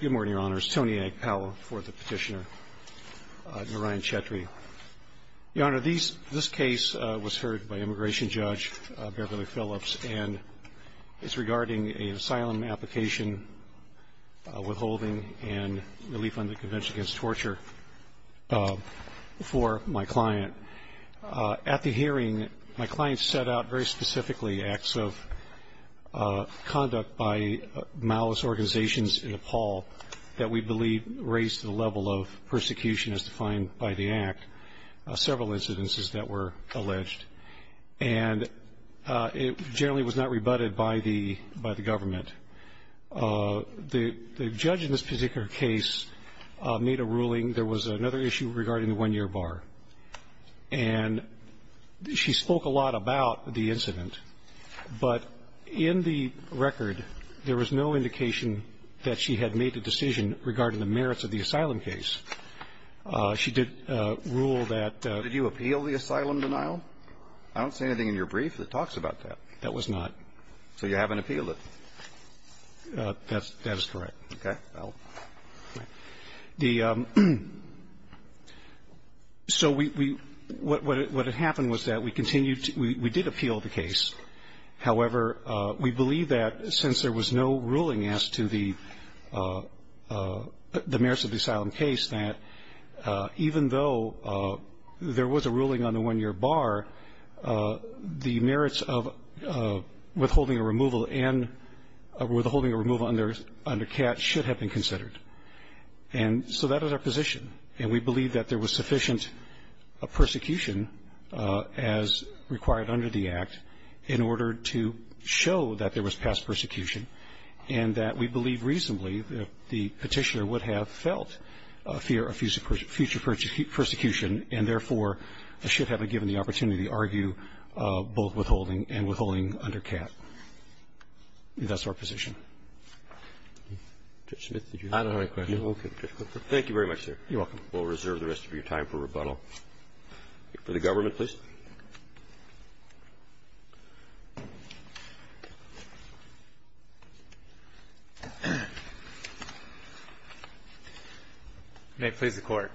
Good morning, Your Honor. It's Tony Agpao for the petitioner, Narayan Chhetri. Your Honor, this case was heard by Immigration Judge Beverly Phillips, and it's regarding an asylum application, withholding, and relief under the Convention Against Torture for my client. At the hearing, my client set out very specifically acts of conduct by malice organizations in Nepal that we believe raised the level of persecution as defined by the Act, several incidences that were alleged. And it generally was not rebutted by the government. The judge in this particular case made a ruling. There was another issue regarding the one-year bar. And she spoke a lot about the incident. But in the record, there was no indication that she had made a decision regarding the merits of the asylum case. She did rule that the ---- Did you appeal the asylum denial? I don't see anything in your brief that talks about that. That was not. So you haven't appealed it? That is correct. Okay. So we ---- what happened was that we continued to ---- we did appeal the case. However, we believe that since there was no ruling as to the merits of the asylum case, that even though there was a ruling on the one-year bar, the merits of withholding a removal and withholding a removal under CAT should have been considered. And so that is our position. And we believe that there was sufficient persecution as required under the Act in order to show that there was past persecution, and that we believe reasonably that the Petitioner would have felt a fear of future persecution and, therefore, should have been given the opportunity to argue both withholding and withholding under CAT. That's our position. Judge Smith, did you have any questions? I don't have any questions. Okay. Thank you very much, sir. You're welcome. For the government, please. May it please the Court.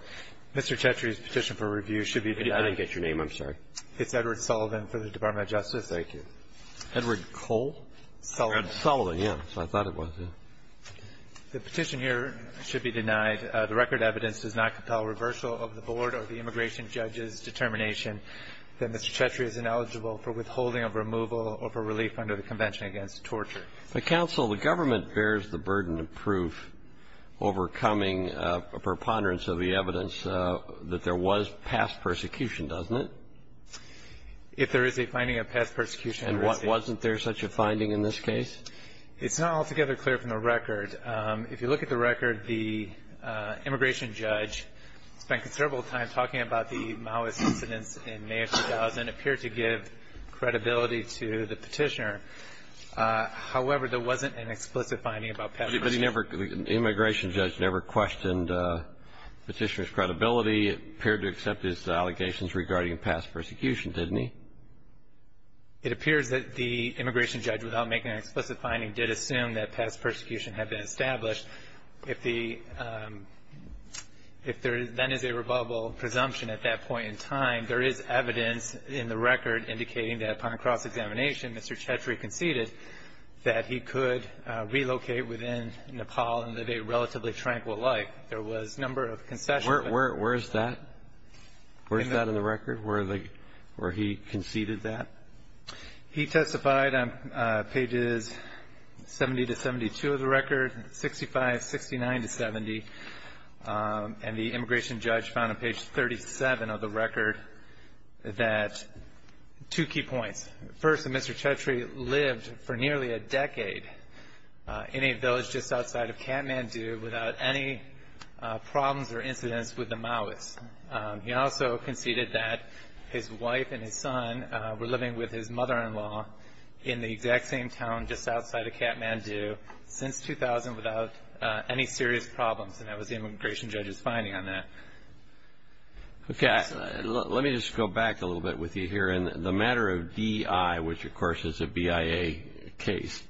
Mr. Chetri's petition for review should be denied. I didn't get your name. I'm sorry. It's Edward Sullivan for the Department of Justice. Thank you. Edward Cole? Sullivan. Sullivan, yeah. That's what I thought it was. The petition here should be denied. The record evidence does not compel a reversal of the Board or the immigration judge's determination that Mr. Chetri is ineligible for withholding of removal or for relief under the Convention Against Torture. But, counsel, the government bears the burden of proof overcoming a preponderance of the evidence that there was past persecution, doesn't it? If there is a finding of past persecution. And wasn't there such a finding in this case? It's not altogether clear from the record. If you look at the record, the immigration judge spent considerable time talking about the Maoist incidents in May of 2000 and appeared to give credibility to the petitioner. However, there wasn't an explicit finding about past persecution. But the immigration judge never questioned the petitioner's credibility. He appeared to accept his allegations regarding past persecution, didn't he? It appears that the immigration judge, without making an explicit finding, did assume that past persecution had been established. If there then is a rebuttable presumption at that point in time, there is evidence in the record indicating that upon cross-examination, Mr. Chetri conceded that he could relocate within Nepal and live a relatively tranquil life. There was a number of concessions. Where is that? Where is that in the record, where he conceded that? He testified on pages 70 to 72 of the record, 65, 69 to 70, and the immigration judge found on page 37 of the record that two key points. First, that Mr. Chetri lived for nearly a decade in a village just outside of Kathmandu without any problems or incidents with the Maoists. He also conceded that his wife and his son were living with his mother-in-law in the exact same town just outside of Kathmandu since 2000 without any serious problems, and that was the immigration judge's finding on that. Okay. Let me just go back a little bit with you here. In the matter of DI, which, of course, is a BIA case,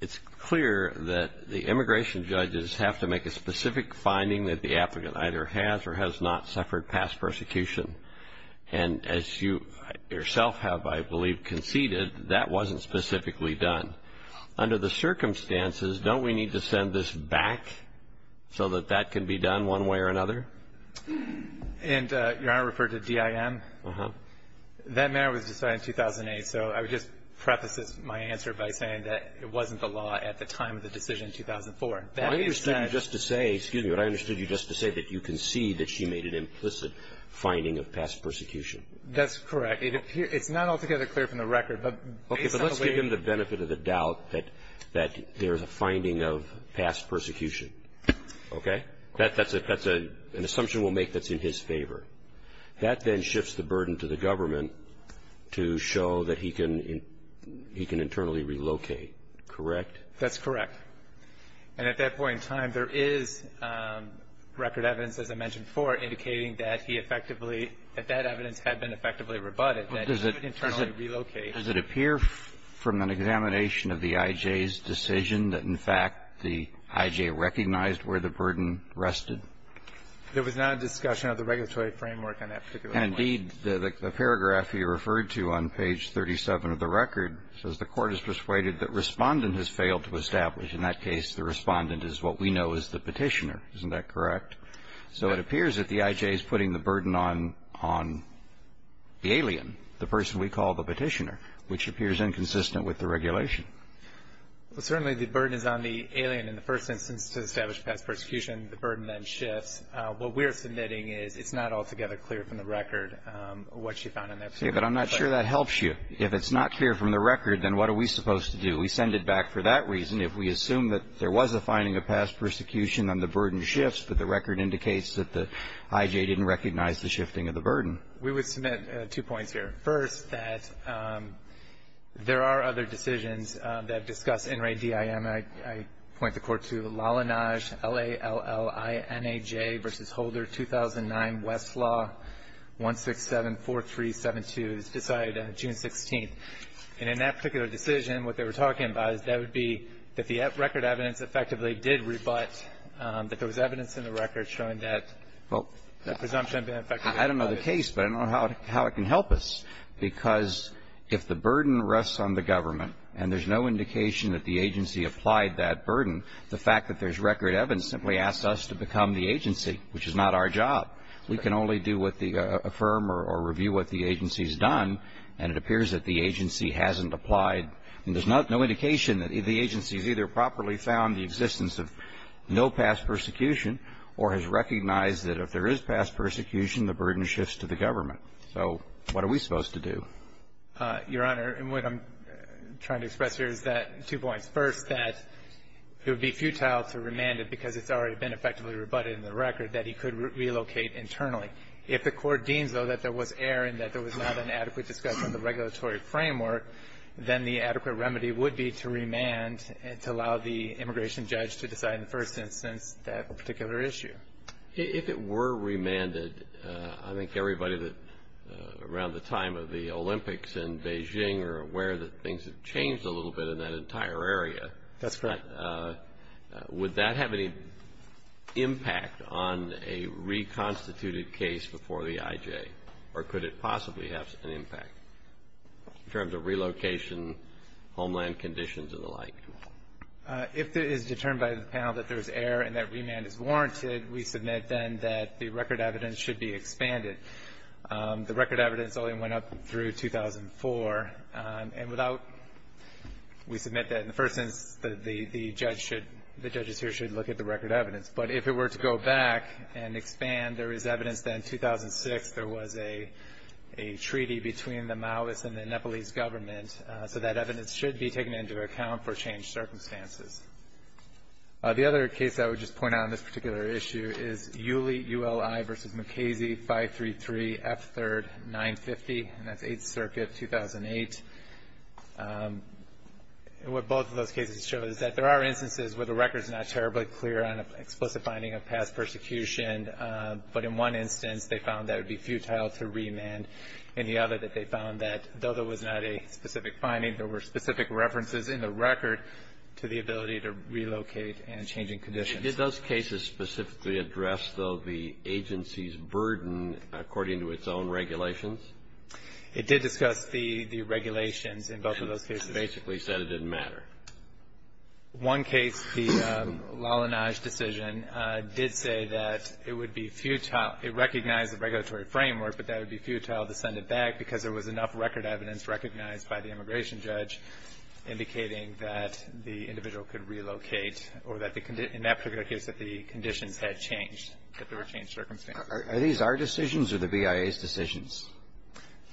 it's clear that the immigration judges have to make a specific finding that the applicant either has or has not suffered past persecution, and as you yourself have, I believe, conceded, that wasn't specifically done. Under the circumstances, don't we need to send this back so that that can be done one way or another? And Your Honor referred to DIM? Uh-huh. That matter was decided in 2008, so I would just preface my answer by saying that it wasn't the law at the time of the decision in 2004. I understood you just to say, excuse me, but I understood you just to say that you concede that she made an implicit finding of past persecution. That's correct. It's not altogether clear from the record, but based on the way— Okay, but let's give him the benefit of the doubt that there's a finding of past persecution. Okay? That's an assumption we'll make that's in his favor. That then shifts the burden to the government to show that he can internally relocate, correct? That's correct. And at that point in time, there is record evidence, as I mentioned before, indicating that he effectively, that that evidence had been effectively rebutted, that he could internally relocate. Does it appear from an examination of the IJ's decision that, in fact, the IJ recognized where the burden rested? There was not a discussion of the regulatory framework on that particular point. And indeed, the paragraph you referred to on page 37 of the record says, the Court has persuaded that Respondent has failed to establish. In that case, the Respondent is what we know as the Petitioner. Isn't that correct? So it appears that the IJ is putting the burden on the alien, the person we call the Petitioner, which appears inconsistent with the regulation. Well, certainly the burden is on the alien in the first instance to establish past persecution. The burden then shifts. What we're submitting is it's not altogether clear from the record what she found in that particular case. Okay. But I'm not sure that helps you. If it's not clear from the record, then what are we supposed to do? We send it back for that reason. If we assume that there was a finding of past persecution, then the burden shifts, but the record indicates that the IJ didn't recognize the shifting of the burden. We would submit two points here. First, that there are other decisions that discuss NRADIM. And I point the Court to Lallanaj, L-A-L-L-I-N-A-J, v. Holder, 2009, Westlaw, 167-4372. It was decided June 16th. And in that particular decision, what they were talking about is that would be that the record evidence effectively did rebut that there was evidence in the record showing that the presumption had been effective. I don't know the case, but I don't know how it can help us, because if the burden rests on the government and there's no indication that the agency applied that burden, the fact that there's record evidence simply asks us to become the agency, which is not our job. We can only do what the firm or review what the agency's done, and it appears that the agency hasn't applied. And there's no indication that the agency's either properly found the existence of no past persecution or has recognized that if there is past persecution, the burden shifts to the government. So what are we supposed to do? Your Honor, what I'm trying to express here is that, two points. First, that it would be futile to remand it because it's already been effectively rebutted in the record that he could relocate internally. If the Court deems, though, that there was error and that there was not an adequate discussion of the regulatory framework, then the adequate remedy would be to remand and to allow the immigration judge to decide in the first instance that particular If it were remanded, I think everybody around the time of the Olympics in Beijing are aware that things have changed a little bit in that entire area. That's correct. Would that have any impact on a reconstituted case before the IJ, or could it possibly have an impact in terms of relocation, homeland conditions, and the like? If it is determined by the panel that there's error and that remand is warranted, we submit then that the record evidence should be expanded. The record evidence only went up through 2004. And without we submit that in the first instance, the judge should the judges here should look at the record evidence. But if it were to go back and expand, there is evidence that in 2006 there was a treaty between the Maoist and the Nepalese government, so that evidence should be taken into account for changed circumstances. The other case I would just point out on this particular issue is Uli, U-L-I, v. McKasey, 533 F. 3rd, 950, and that's 8th Circuit, 2008. What both of those cases show is that there are instances where the record is not terribly clear on an explicit finding of past persecution, but in one instance they found that it would be futile to remand, and the other that they found that though there was not a specific finding, there were specific references in the record to the ability to relocate and changing conditions. Did those cases specifically address, though, the agency's burden according to its own regulations? It did discuss the regulations in both of those cases. It basically said it didn't matter. One case, the Lalanaj decision, did say that it would be futile. It recognized the regulatory framework, but that it would be futile to send it back because there was enough record evidence recognized by the immigration judge indicating that the individual could relocate or that in that particular case that the conditions had changed, that there were changed circumstances. Are these our decisions or the BIA's decisions?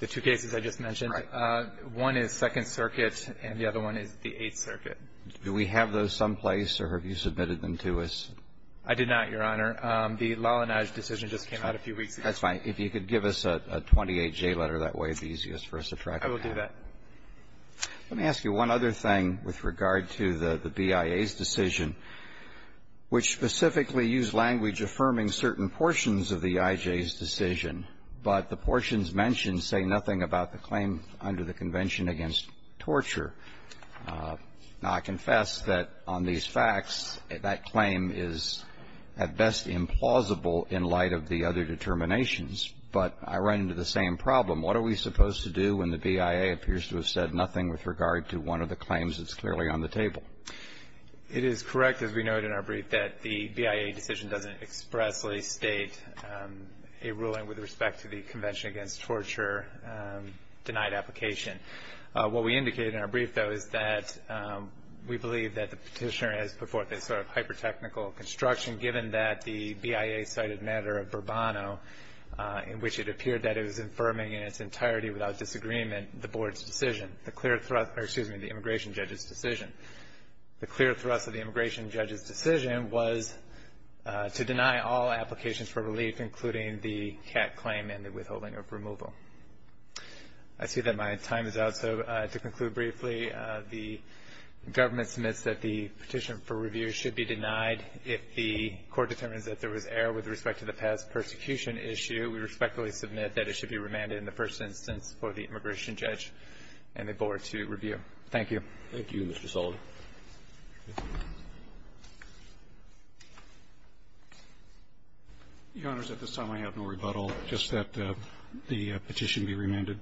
The two cases I just mentioned. Right. One is 2nd Circuit, and the other one is the 8th Circuit. Do we have those someplace, or have you submitted them to us? I did not, Your Honor. The Lalanaj decision just came out a few weeks ago. That's fine. If you could give us a 28J letter, that would be easiest for us to track down. I will do that. Let me ask you one other thing with regard to the BIA's decision, which specifically used language affirming certain portions of the IJ's decision, but the portions mentioned say nothing about the claim under the Convention against Torture. Now, I confess that on these facts, that claim is at best implausible in light of the other determinations, but I run into the same problem. What are we supposed to do when the BIA appears to have said nothing with regard to one of the claims that's clearly on the table? It is correct, as we noted in our brief, that the BIA decision doesn't expressly state a ruling with respect to the Convention against Torture denied application. What we indicated in our brief, though, is that we believe that the Petitioner has put forth a sort of hyper-technical construction, given that the BIA cited matter of Bourbano, in which it appeared that it was affirming in its entirety without disagreement the board's decision, the clear thrust of the immigration judge's decision. The clear thrust of the immigration judge's decision was to deny all applications for relief, including the CAT claim and the withholding of removal. I see that my time is out, so to conclude briefly, the government submits that the Petitioner for review should be denied if the Court determines that there was error with respect to the past persecution issue. We respectfully submit that it should be remanded in the first instance for the immigration judge and the board to review. Thank you. Roberts. Thank you, Mr. Sullivan. The Honors, at this time, I have no rebuttal. Just that the petition be remanded.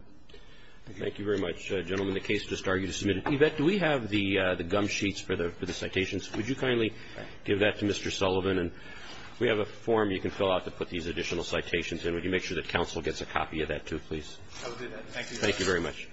Thank you. Thank you very much, gentlemen. The case is just argued and submitted. Yvette, do we have the gum sheets for the citations? Would you kindly give that to Mr. Sullivan? And we have a form you can fill out to put these additional citations in. Would you make sure that counsel gets a copy of that, too, please? I will do that. Thank you very much.